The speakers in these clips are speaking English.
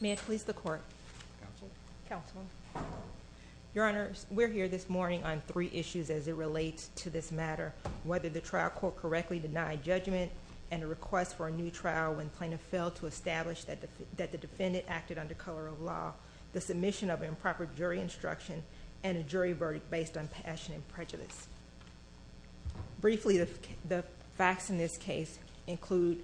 May I please the court? Counsel. Counsel. Your Honor, we're here this morning on three issues as it relates to this matter, whether the trial court correctly denied judgment and a request for a new trial when plaintiff failed to establish that the defendant acted under color of law, the submission of improper jury instruction, and a jury verdict based on passion and prejudice. Briefly the facts in this case include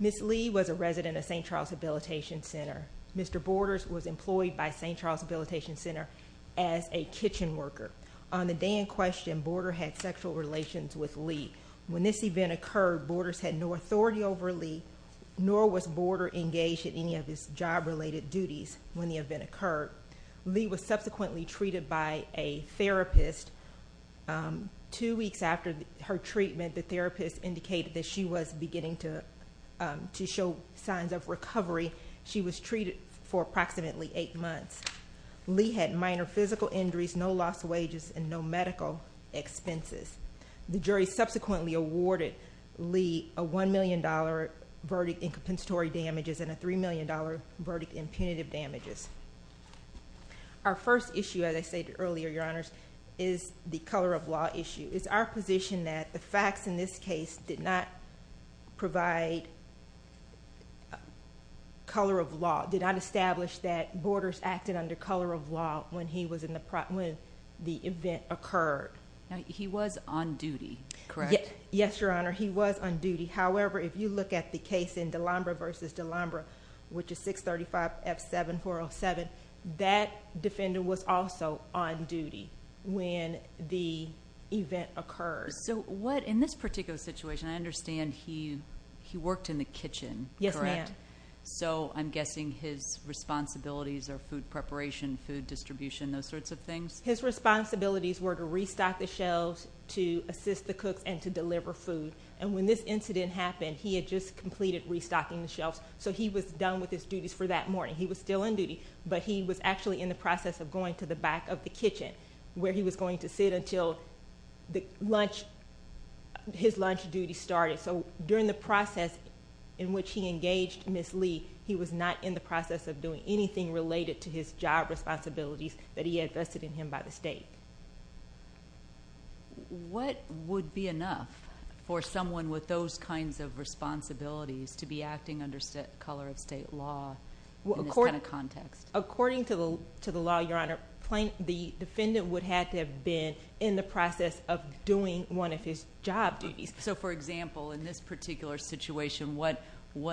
Ms. Lee was a resident of St. Charles Habilitation Center. Mr. Borders was employed by St. Charles Habilitation Center as a kitchen worker. On the day in question, Borders had sexual relations with Lee. When this event occurred, Borders had no authority over Lee, nor was Borders engaged in any of his job-related duties when the event occurred. Lee was subsequently treated by a therapist. Two weeks after her treatment, the therapist indicated that she was beginning to show signs of recovery. She was treated for approximately eight months. Lee had minor physical injuries, no loss of wages, and no medical expenses. The jury subsequently awarded Lee a $1 million verdict in compensatory damages and a $3 million verdict in punitive damages. Our first issue, as I stated earlier, Your Honors, is the color of law issue. It's our position that the facts in this case did not provide color of law, did not establish that Borders acted under color of law when the event occurred. He was on duty, correct? Yes, Your Honor. He was on duty. However, if you look at the case in D'Alembre v. D'Alembre, which is 635F7407, that defendant was also on duty when the event occurred. In this particular situation, I understand he worked in the kitchen, correct? Yes, ma'am. I'm guessing his responsibilities are food preparation, food distribution, those sorts of things? His responsibilities were to restock the shelves, to assist the cooks, and to deliver food. When this incident happened, he had just completed restocking the shelves, so he was done with his duties for that morning. He was still on duty, but he was actually in the process of going to the back of the kitchen where he was going to sit until his lunch duty started. During the process in which he engaged Ms. Lee, he was not in the process of doing anything related to his job responsibilities that he had vested in him by the state. What would be enough for someone with those kinds of responsibilities to be acting under color of state law in this kind of context? According to the law, Your Honor, the defendant would have to have been in the process of doing one of his job duties. For example, in this particular situation, what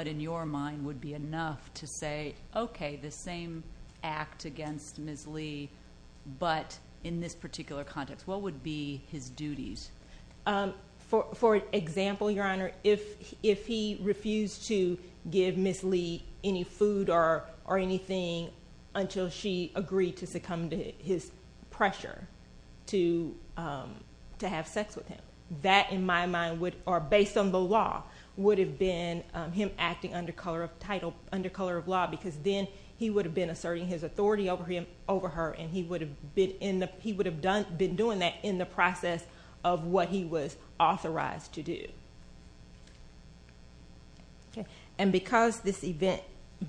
in your mind would be enough to say, okay, the same act against Ms. Lee, but in this particular context, what would be his duties? For example, Your Honor, if he refused to give Ms. Lee any food or anything until she agreed to succumb to his pressure to have sex with him, that in my mind would, or based on the law, would have been him acting under color of law, because then he would have been asserting his authority over her, and he would have been doing that in the process of what he was authorized to do. Because this event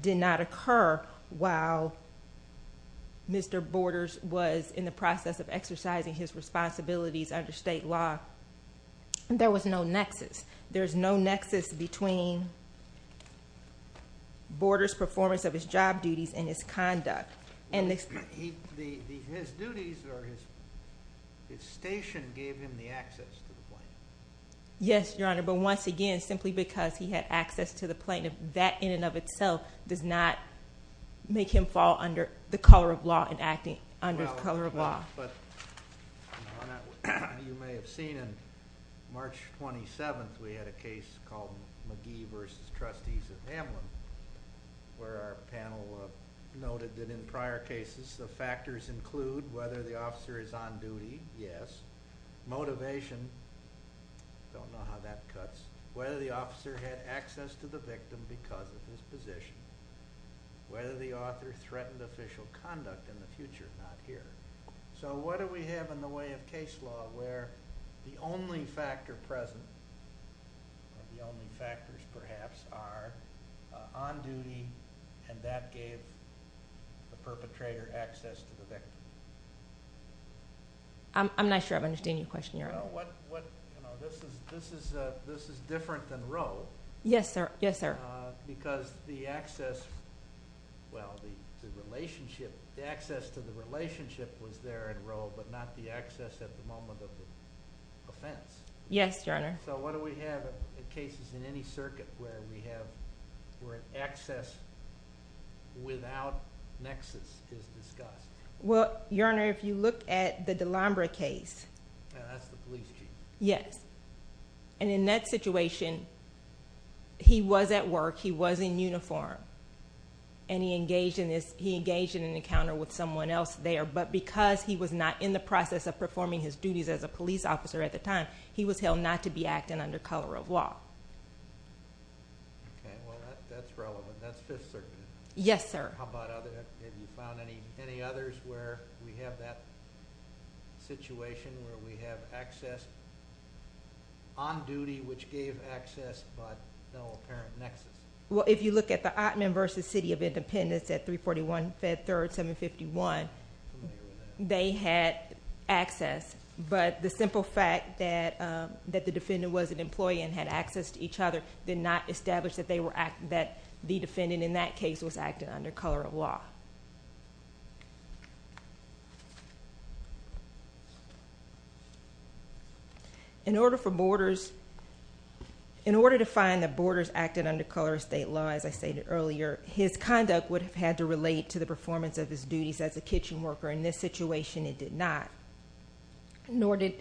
did not occur while Mr. Borders was in the process of exercising his authority, there's no nexus between Borders' performance of his job duties and his conduct. His duties or his station gave him the access to the plane. Yes, Your Honor, but once again, simply because he had access to the plane, that in and of itself does not make him fall under the color of law and acting under the color of law. But Your Honor, you may have seen in March 27th, we had a case called McGee v. Trustees of Hamlin, where our panel noted that in prior cases, the factors include whether the officer is on duty, yes, motivation, don't know how that cuts, whether the officer had access to the victim because of his position, whether the author threatened official conduct in the case. So what do we have in the way of case law where the only factor present, the only factors perhaps are on duty, and that gave the perpetrator access to the victim? I'm not sure I understand your question, Your Honor. This is different than Roe. Yes, sir. Yes, sir. Well, the relationship, the access to the relationship was there in Roe, but not the access at the moment of the offense. Yes, Your Honor. So what do we have in cases in any circuit where we have, where access without nexus is discussed? Well, Your Honor, if you look at the Delambre case. That's the police chief. Yes. And in that situation, he was at work. He was in uniform, and he engaged in an encounter with someone else there, but because he was not in the process of performing his duties as a police officer at the time, he was held not to be acting under color of law. Okay. Well, that's relevant. That's Fifth Circuit. Yes, sir. How about other, have you found any others where we have that situation where we have access on duty, which gave access, but no apparent nexus? Well, if you look at the Ottman v. City of Independence at 341 Fed Third 751, they had access, but the simple fact that the defendant was an employee and had access to each other did not establish that they were, that the defendant in that case was acting under color of law. In order for Borders, in order to find that Borders acted under color of state law, as I stated earlier, his conduct would have had to relate to the performance of his duties as a kitchen worker. In this situation, it did not, nor did,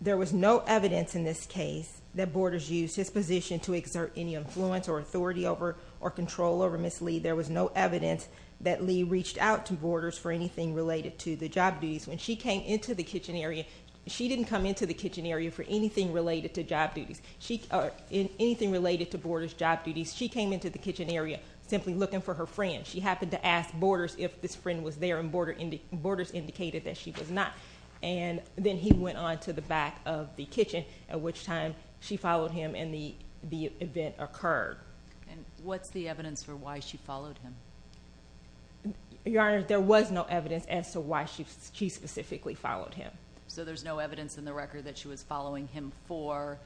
there was no evidence in this case that Borders used his position to exert any influence or authority over or control over Ms. Lee. There was no evidence that Lee reached out to Borders for anything related to the job duties. When she came into the kitchen area, she didn't come into the kitchen area for anything related to job duties, anything related to Borders' job duties. She came into the kitchen area simply looking for her friend. She happened to ask Borders if this friend was there, and Borders indicated that she was not. And then he went on to the back of the kitchen, at which time she followed him and the event occurred. And what's the evidence for why she followed him? Your Honor, there was no evidence as to why she specifically followed him. So there's no evidence in the record that she was following him for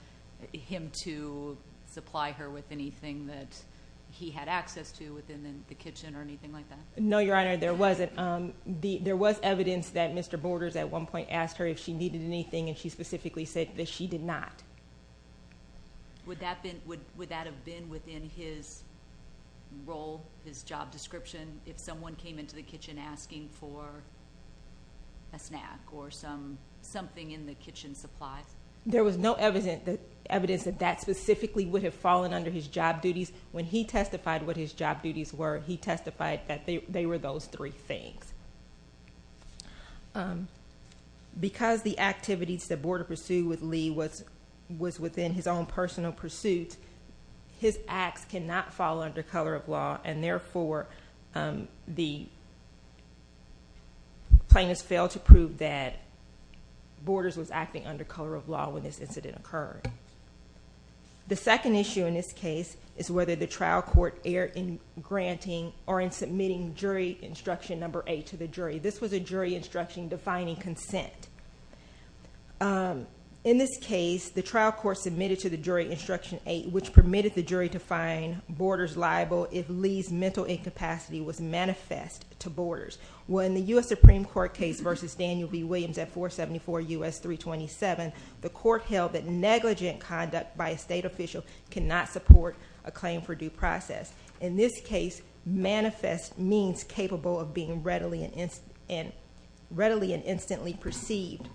him to supply her with anything that he had access to within the kitchen or anything like that? No, Your Honor, there wasn't. There was evidence that Mr. Borders at one point asked her if she needed anything, and she specifically said that she did not. Would that have been within his role, his job description, if someone came into the kitchen asking for a snack or something in the kitchen supplies? There was no evidence that that specifically would have fallen under his job duties. When he testified what his job duties were, he testified that they were those three things. Because the activities that Borders pursued with Lee was within his own personal pursuit, his acts cannot fall under color of law, and therefore the plaintiffs failed to prove that Borders was acting under color of law when this incident occurred. The second issue in this case is whether the trial court erred in granting or in submitting jury instruction number eight to the jury. This was a jury instruction defining consent. In this case, the trial court submitted to the jury instruction eight, which permitted the jury to find Borders liable if Lee's mental incapacity was manifest to Borders. When the U.S. Supreme Court case versus Daniel B. Williams at 474 U.S. 327, the court held that negligent conduct by a state official cannot support a claim for due process. In this case, manifest means capable of being readily and instantly perceived,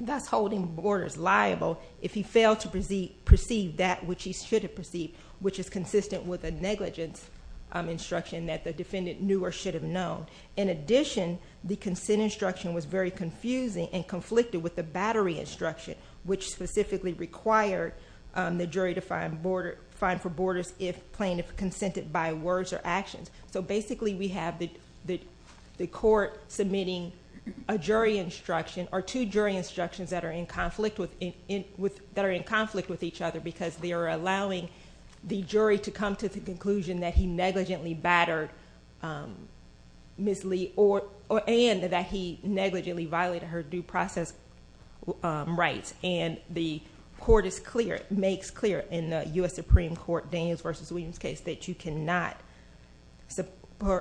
thus holding Borders liable if he failed to perceive that which he should have perceived, which is consistent with a negligence instruction that the defendant knew or should have known. In addition, the consent instruction was very confusing and conflicted with the battery instruction, which specifically required the jury to find for Borders if plaintiff consented by words or actions. Basically, we have the court submitting a jury instruction or two jury instructions that are in conflict with each other because they are allowing the jury to come to the conclusion that he negligently battered Ms. Lee and that he negligently violated her due process rights. The court makes clear in the U.S. Supreme Court Daniels versus Williams case that you cannot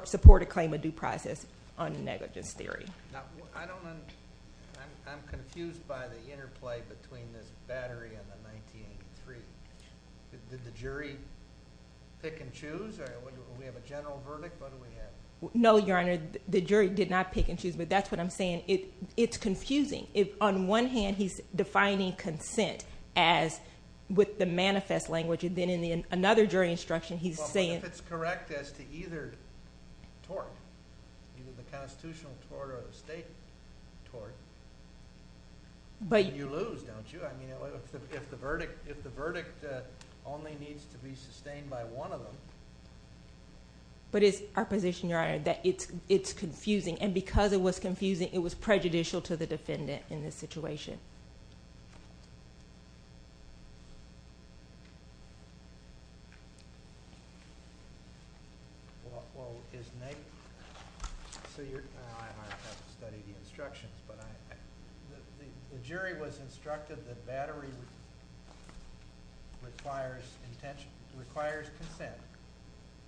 support a claim of due process on negligence theory. I'm confused by the interplay between this battery and the 1983. Did the jury pick and choose? Do we have a general verdict? No, Your Honor. The jury did not pick and choose, but that's what I'm saying. It's confusing. On one hand, he's defining consent as with the manifest language. Then, in another jury instruction, he's saying— If it's correct as to either tort, either the constitutional tort or the state tort, then you lose, don't you? I mean, if the verdict only needs to be sustained by one of them— But it's our position, Your Honor, that it's confusing. Because it was confusing, it was prejudicial to the defendant in this situation. Well, isn't that— I don't have to study the instructions, but the jury was instructed that battery requires consent.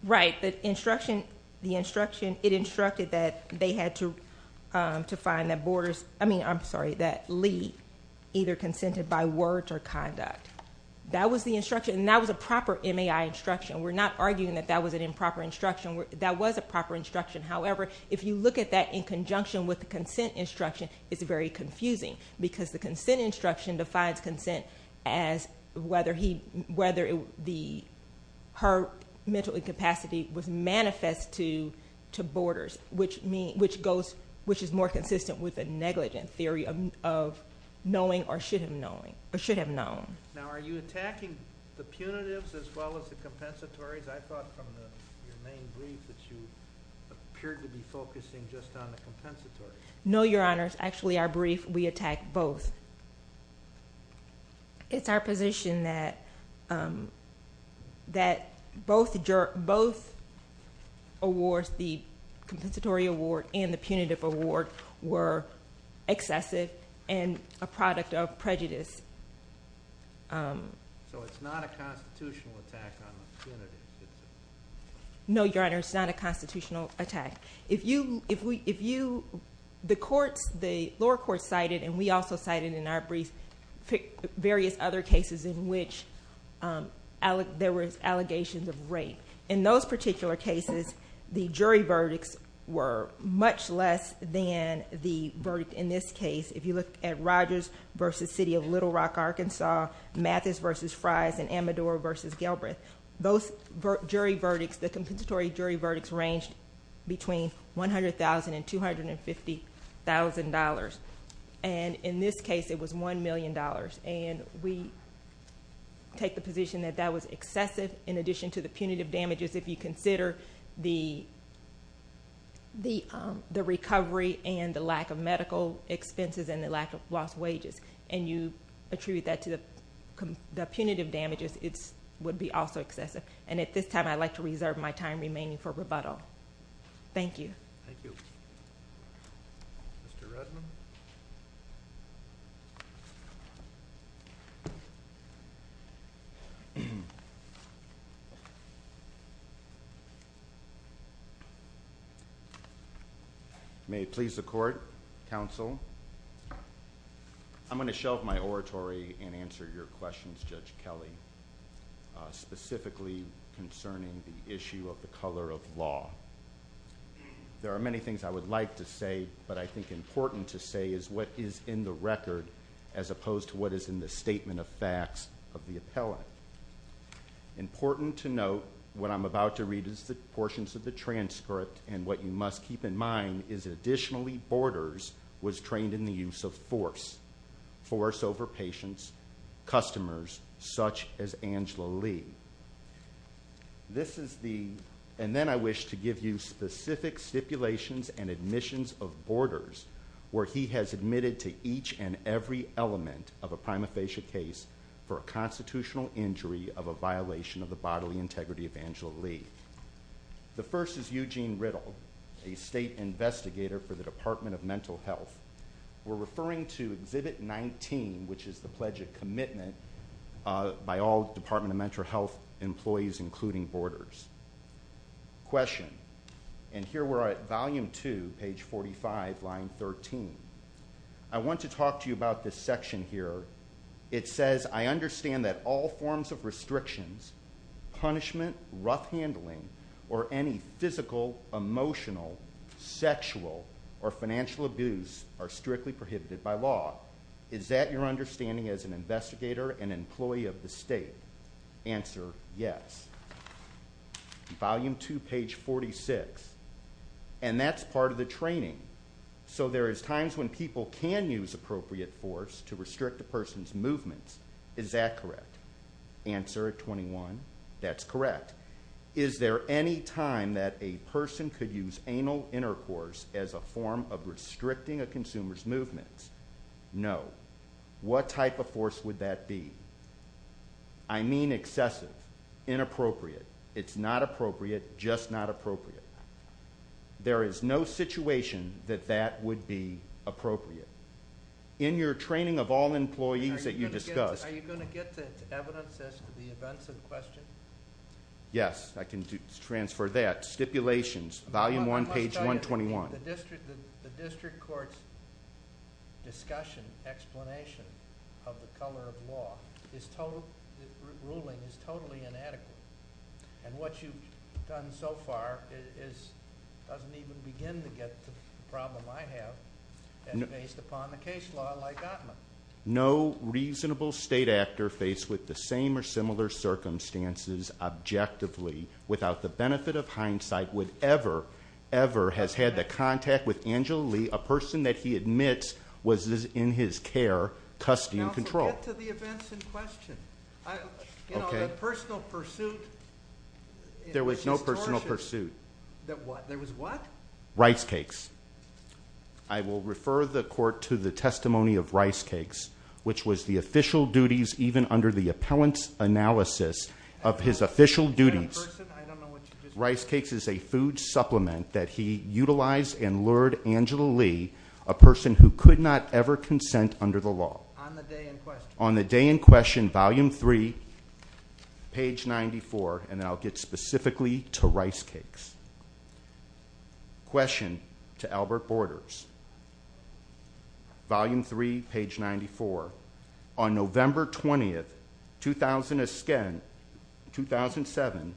Right. The instruction, it instructed that they had to find that Lee either consented by words or conduct. That was the instruction, and that was a proper MAI instruction. We're not arguing that that was an improper instruction. That was a proper instruction. However, if you look at that in conjunction with the consent instruction, it's very confusing. Because the consent instruction defines consent as whether her mental incapacity was manifest to borders, which is more consistent with a negligent theory of knowing or should have known. Now, are you attacking the punitives as well as the compensatories? I thought from your main brief that you appeared to be focusing just on the compensatory. No, Your Honor. It's actually our brief. We attack both. It's our position that both awards, the compensatory award and the punitive award, were excessive and a product of prejudice. So it's not a constitutional attack on the punitive. No, Your Honor, it's not a constitutional attack. The lower courts cited, and we also cited in our brief, various other cases in which there were allegations of rape. In those particular cases, the jury verdicts were much less than the verdict in this case. If you look at Rogers v. City of Little Rock, Arkansas, Mathis v. Fries, and Amador v. Galbraith, both jury verdicts, the compensatory jury verdicts, ranged between $100,000 and $250,000. And in this case, it was $1 million. And we take the position that that was excessive in addition to the punitive damages. If you consider the recovery and the lack of medical expenses and the lack of lost wages and you attribute that to the punitive damages, it would be also excessive. And at this time, I'd like to reserve my time remaining for rebuttal. Thank you. Thank you. Mr. Rudman? May it please the Court, counsel. I'm going to shelve my oratory and answer your questions, Judge Kelly, specifically concerning the issue of the color of law. There are many things I would like to say, but I think important to say is what is in the record as opposed to what is in the statement of facts of the appellant. Important to note, what I'm about to read is the portions of the transcript, and what you must keep in mind is additionally Borders was trained in the use of force, force over patients, customers, such as Angela Lee. This is the, and then I wish to give you specific stipulations and admissions of Borders, where he has admitted to each and every element of a prima facie case for a constitutional injury of a violation of the bodily integrity of Angela Lee. The first is Eugene Riddle, a state investigator for the Department of Mental Health. We're referring to Exhibit 19, which is the Pledge of Commitment by all Department of Mental Health employees, including Borders. Question, and here we're at Volume 2, page 45, line 13. I want to talk to you about this section here. It says, I understand that all forms of restrictions, punishment, rough handling, or any physical, emotional, sexual, or financial abuse are strictly prohibited by law. Is that your understanding as an investigator and employee of the state? Answer, yes. Volume 2, page 46, and that's part of the training. So there is times when people can use appropriate force to restrict a person's movements. Is that correct? Answer at 21, that's correct. Is there any time that a person could use anal intercourse as a form of restricting a consumer's movements? No. What type of force would that be? I mean excessive, inappropriate. It's not appropriate, just not appropriate. There is no situation that that would be appropriate. In your training of all employees that you discussed. Are you going to get the evidence as to the events in question? Yes, I can transfer that. Stipulations, Volume 1, page 121. The district court's discussion, explanation of the color of law, this ruling is totally inadequate. And what you've done so far doesn't even begin to get the problem I have based upon the case law like that one. No reasonable state actor faced with the same or similar circumstances objectively without the benefit of hindsight would ever, ever have had the contact with Angela Lee, a person that he admits was in his care, custody, and control. Get to the events in question. The personal pursuit. There was no personal pursuit. There was what? Rice cakes. I will refer the court to the testimony of rice cakes, which was the official duties even under the appellant's analysis of his official duties. Rice cakes is a food supplement that he utilized and lured Angela Lee, a person who could not ever consent under the law. On the day in question. Question, Volume 3, page 94. And then I'll get specifically to rice cakes. Question to Albert Borders. Volume 3, page 94. On November 20, 2007,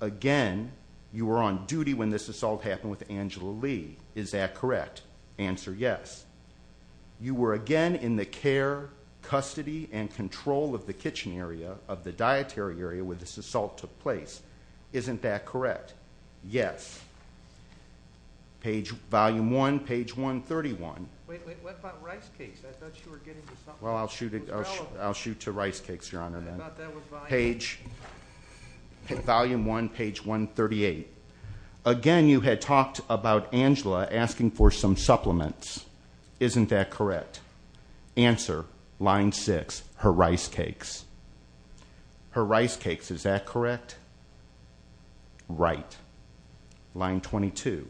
again, you were on duty when this assault happened with Angela Lee. Is that correct? Answer, yes. You were again in the care, custody, and control of the kitchen area, of the dietary area where this assault took place. Isn't that correct? Yes. Page, Volume 1, page 131. Wait, wait, what about rice cakes? I thought you were getting to something. Well, I'll shoot to rice cakes, Your Honor. I thought that was Volume 1. Page, Volume 1, page 138. Again, you had talked about Angela asking for some supplements. Isn't that correct? Answer, Line 6, her rice cakes. Her rice cakes, is that correct? Right. Line 22.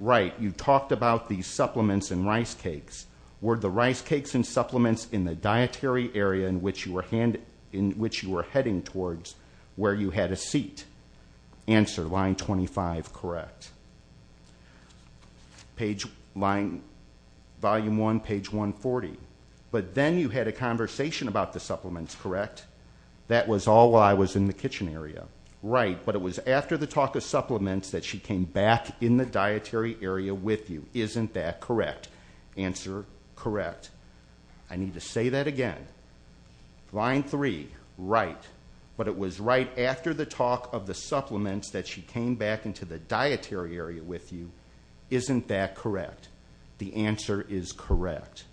Right, you talked about these supplements and rice cakes. Were the rice cakes and supplements in the dietary area in which you were heading towards where you had a seat? Answer, Line 25, correct. Page, Volume 1, page 140. But then you had a conversation about the supplements, correct? That was all while I was in the kitchen area. Right, but it was after the talk of supplements that she came back in the dietary area with you. Isn't that correct? Answer, correct. I need to say that again. Line 3, right. But it was right after the talk of the supplements that she came back into the dietary area with you. Isn't that correct? The answer is correct.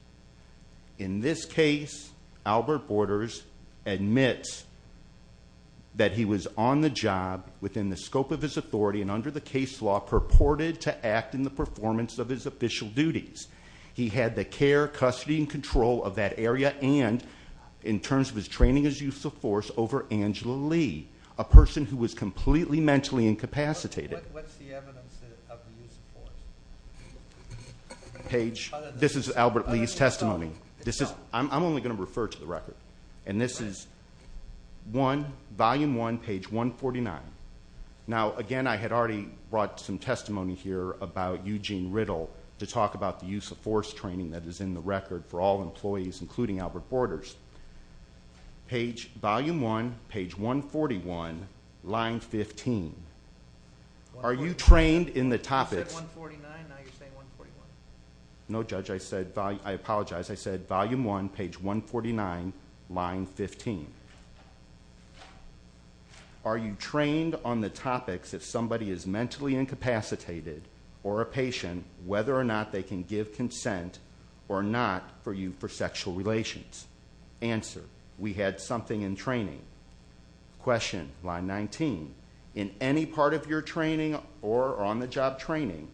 In this case, Albert Borders admits that he was on the job within the scope of his authority and under the case law purported to act in the performance of his official duties. He had the care, custody, and control of that area and in terms of his training as use of force over Angela Lee, a person who was completely mentally incapacitated. What's the evidence of the use of force? Page, this is Albert Lee's testimony. I'm only going to refer to the record. And this is Volume 1, page 149. Now, again, I had already brought some testimony here about Eugene Riddle to talk about the use of force training that is in the record for all employees, including Albert Borders. Volume 1, page 141, line 15. Are you trained in the topics? You said 149, now you're saying 141. No, Judge, I apologize. I said Volume 1, page 149, line 15. Are you trained on the topics if somebody is mentally incapacitated or a patient, whether or not they can give consent or not for you for sexual relations? Answer, we had something in training. Question, line 19. In any part of your training or on-the-job training?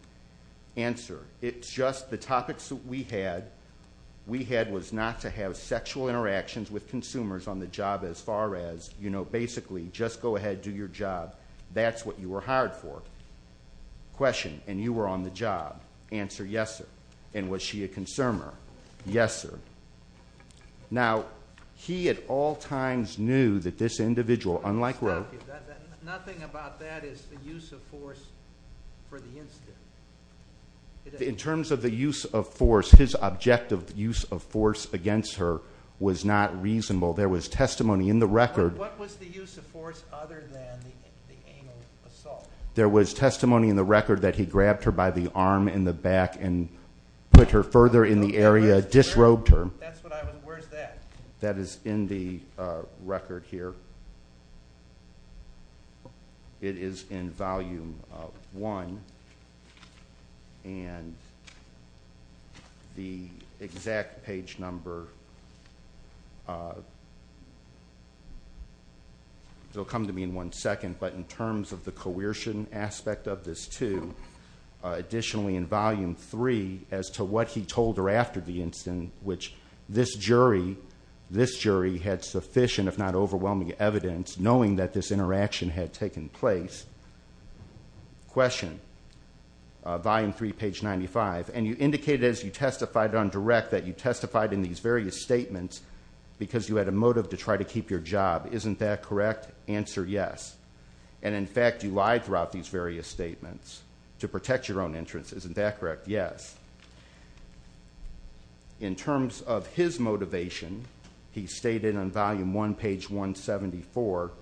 Answer, it's just the topics that we had, we had was not to have sexual interactions with consumers on the job as far as, you know, basically just go ahead, do your job. That's what you were hired for. Question, and you were on the job. Answer, yes, sir. And was she a consumer? Yes, sir. Now, he at all times knew that this individual, unlike Roe. Nothing about that is the use of force for the incident. In terms of the use of force, his objective use of force against her was not reasonable. There was testimony in the record. What was the use of force other than the anal assault? There was testimony in the record that he grabbed her by the arm in the back and put her further in the area, disrobed her. That's what I was, where's that? That is in the record here. It is in volume one. And the exact page number will come to me in one second. But in terms of the coercion aspect of this too, additionally in volume three as to what he told her after the incident, which this jury had sufficient if not overwhelming evidence knowing that this interaction had taken place. Question, volume three, page 95. And you indicated as you testified on direct that you testified in these various statements because you had a motive to try to keep your job. Isn't that correct? Answer, yes. And, in fact, you lied throughout these various statements to protect your own interests. Isn't that correct? Answer, yes. In terms of his motivation, he stated on volume one, page 174,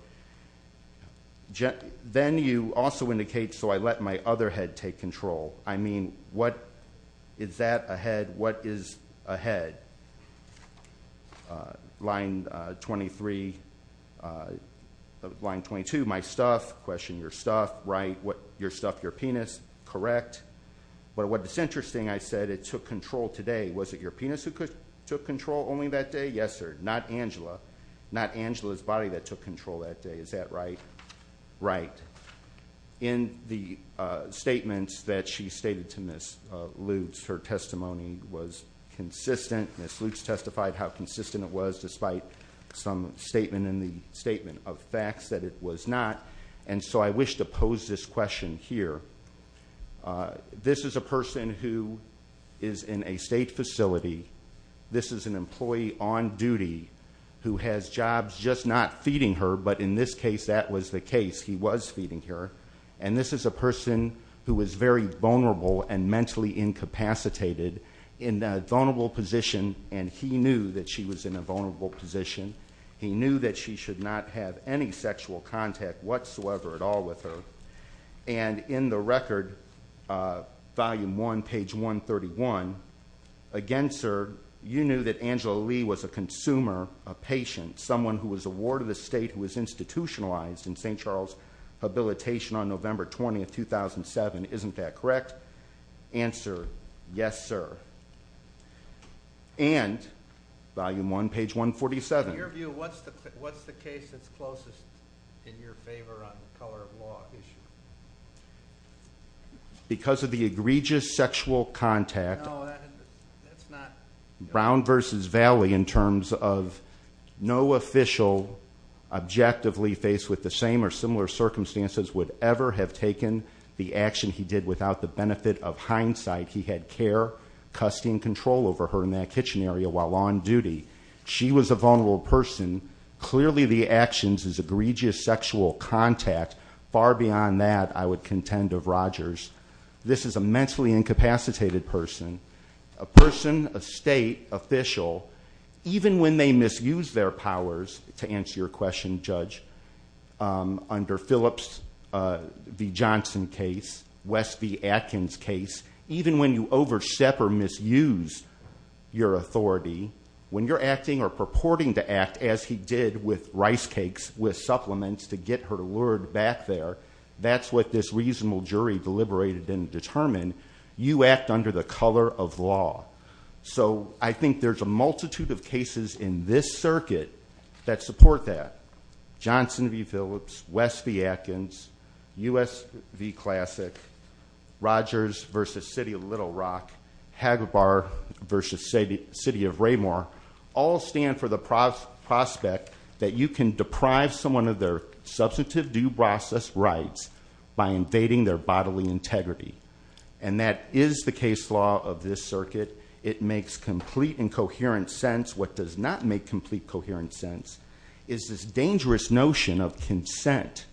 then you also indicate, so I let my other head take control. I mean, what is that, a head? What is a head? Line 23, line 22, my stuff. Question, your stuff, right. Your stuff, your penis, correct. But what is interesting, I said it took control today. Was it your penis who took control only that day? Yes, sir. Not Angela. Not Angela's body that took control that day. Is that right? Right. In the statements that she stated to Ms. Lutes, her testimony was consistent. Ms. Lutes testified how consistent it was despite some statement in the statement of facts that it was not. And so I wish to pose this question here. This is a person who is in a state facility. This is an employee on duty who has jobs just not feeding her, but in this case that was the case. He was feeding her. And this is a person who was very vulnerable and mentally incapacitated in a vulnerable position, and he knew that she was in a vulnerable position. He knew that she should not have any sexual contact, whatsoever, at all with her. And in the record, volume one, page 131, again, sir, you knew that Angela Lee was a consumer, a patient, someone who was a ward of the state who was institutionalized in St. Charles habilitation on November 20th, 2007. Isn't that correct? Answer, yes, sir. And volume one, page 147. In your view, what's the case that's closest in your favor on the color of law issue? Because of the egregious sexual contact. No, that's not. Brown versus Valley in terms of no official objectively faced with the same or similar circumstances would ever have taken the action he did without the benefit of hindsight. He had care, custody, and control over her in that kitchen area while on duty. She was a vulnerable person. Clearly, the actions is egregious sexual contact. Far beyond that, I would contend of Rogers. This is a mentally incapacitated person. A person, a state official, even when they misuse their powers, to answer your question, Judge, under Phillips v. Johnson case, West v. Atkins case, even when you overstep or misuse your authority, when you're acting or purporting to act as he did with rice cakes, with supplements to get her lured back there, that's what this reasonable jury deliberated and determined. You act under the color of law. So I think there's a multitude of cases in this circuit that support that. Johnson v. Phillips, West v. Atkins, U.S. v. Classic, Rogers versus City of Little Rock, Hager Bar versus City of Raymore, all stand for the prospect that you can deprive someone of their substantive due process rights by invading their bodily integrity. And that is the case law of this circuit. It makes complete and coherent sense. What does not make complete coherent sense is this dangerous notion of consent.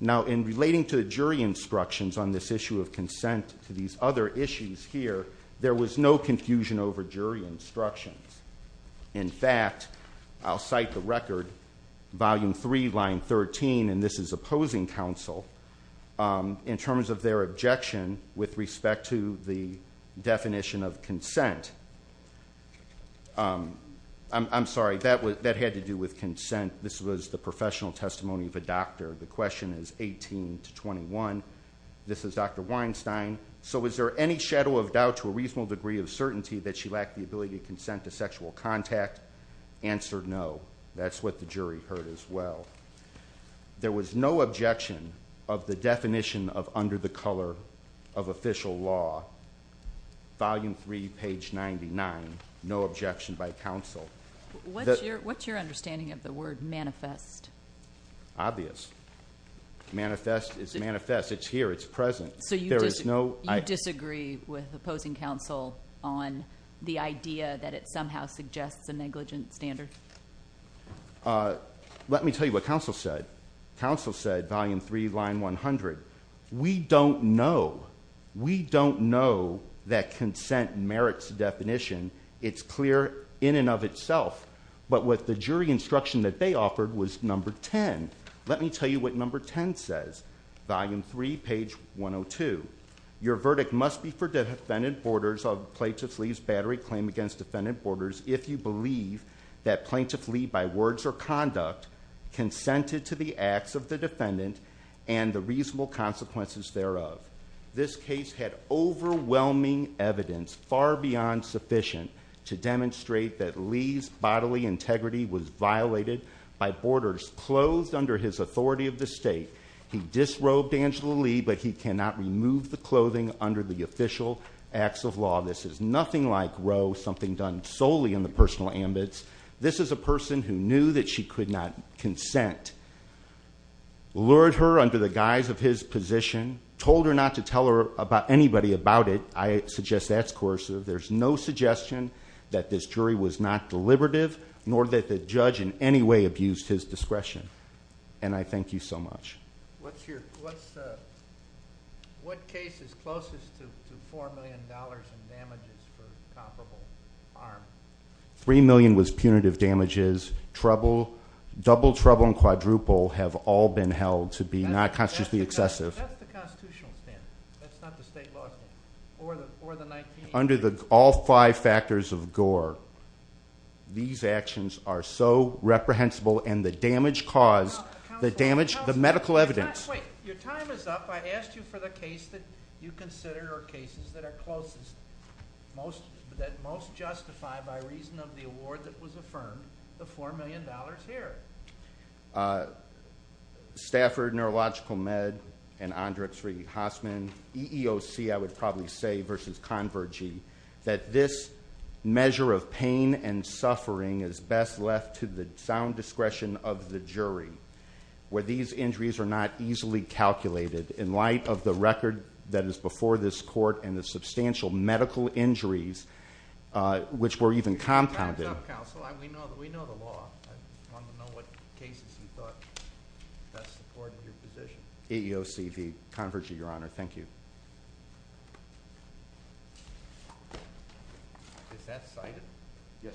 Now, in relating to the jury instructions on this issue of consent to these other issues here, there was no confusion over jury instructions. In fact, I'll cite the record, volume three, line 13, and this is opposing counsel in terms of their objection with respect to the definition of consent. I'm sorry, that had to do with consent. This was the professional testimony of a doctor. The question is 18 to 21. This is Dr. Weinstein. So was there any shadow of doubt to a reasonable degree of certainty that she lacked the ability to consent to sexual contact? Answered no. That's what the jury heard as well. There was no objection of the definition of under the color of official law, volume three, page 99, no objection by counsel. What's your understanding of the word manifest? Obvious. Manifest is manifest. It's here. It's present. So there is no, I disagree with opposing counsel on the idea that it somehow suggests a negligent standard. Let me tell you what counsel said. Counsel said volume three, line 100. We don't know. We don't know that consent merits definition. It's clear in and of itself, but what the jury instruction that they offered was number 10. Let me tell you what number 10 says. Volume three, page 102. Your verdict must be for defendant borders of plaintiffs. Lee's battery claim against defendant borders. If you believe that plaintiff Lee by words or conduct consented to the acts of the defendant and the reasonable consequences thereof, this case had overwhelming evidence far beyond sufficient to demonstrate that Lee's bodily integrity was violated by borders clothed under his authority of the state. He disrobed Angela Lee, but he cannot remove the clothing under the official acts of law. This is nothing like row something done solely in the personal ambits. This is a person who knew that she could not consent. Lord her under the guise of his position told her not to tell her about anybody about it. I suggest that's coercive. There's no suggestion that this jury was not deliberative nor that the And so I'll conclude with this question. And I thank you so much. What's your, what's the, what case is closest to $4 million in damages for comparable. Three million was punitive damages. Trouble double trouble and quadruple have all been held to be not consciously excessive. That's the constitutional standard. That's not the state law. Or the, or the 19 under the, all five factors of gore. These actions are so reprehensible and the damage caused the damage, the medical evidence. Wait, your time is up. I asked you for the case that you considered or cases that are closest. Most that most justify by reason of the award that was affirmed the $4 million here. Stafford neurological med and Andrew three Hossman EEOC. I would probably say versus converging that this measure of pain and suffering is best left to the sound discretion of the jury where these injuries are not easily calculated in light of the record that is before this court and the substantial medical injuries, which were even compounded. We know that we know the law. I want to know what cases you thought best supported your position. EEOCV converging your honor. Thank you. Okay. Is that cited? Yes.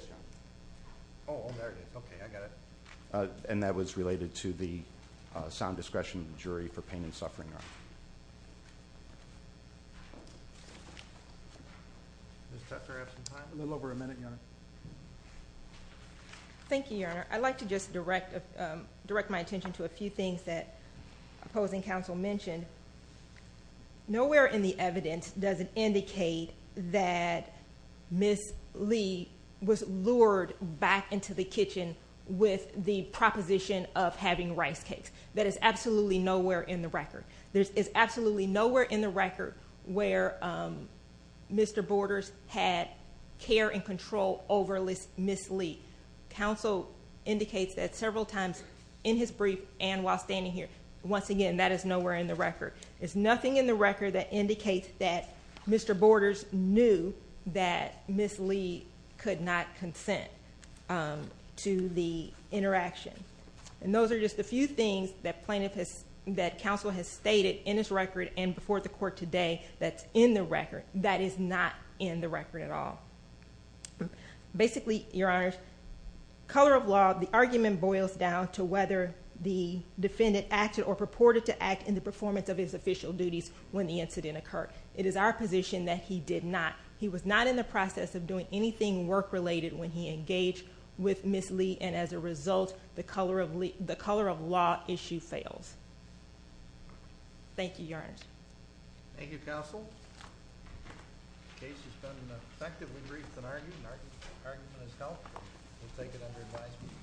Oh, there it is. Okay. I got it. And that was related to the sound discretion of the jury for pain and suffering. A little over a minute. Thank you, your honor. I'd like to just direct, direct my attention to a few things that opposing council mentioned nowhere in the evidence. Does it indicate that miss Lee was lured back into the kitchen with the proposition of having rice cakes? That is absolutely nowhere in the record. There is absolutely nowhere in the record where Mr. Borders had care and control over list. Miss Lee council indicates that several times in his brief and while standing here, once again, that is nowhere in the record is nothing in the record that indicates that Mr. Borders knew that miss Lee could not consent to the interaction. And those are just a few things that plaintiff has, that council has stated in his record and before the court today, that's in the record that is not in the record at all. Basically your honor color of law, the argument boils down to whether the defendant acted or purported to act in the performance of his official duties. When the incident occurred, it is our position that he did not, he was not in the process of doing anything work related when he engaged with miss Lee. And as a result, the color of Lee, the color of law issue fails. Thank you. Your honor. Thank you. Counsel. Okay. This has been effectively briefed and argued. We'll take it under advisement.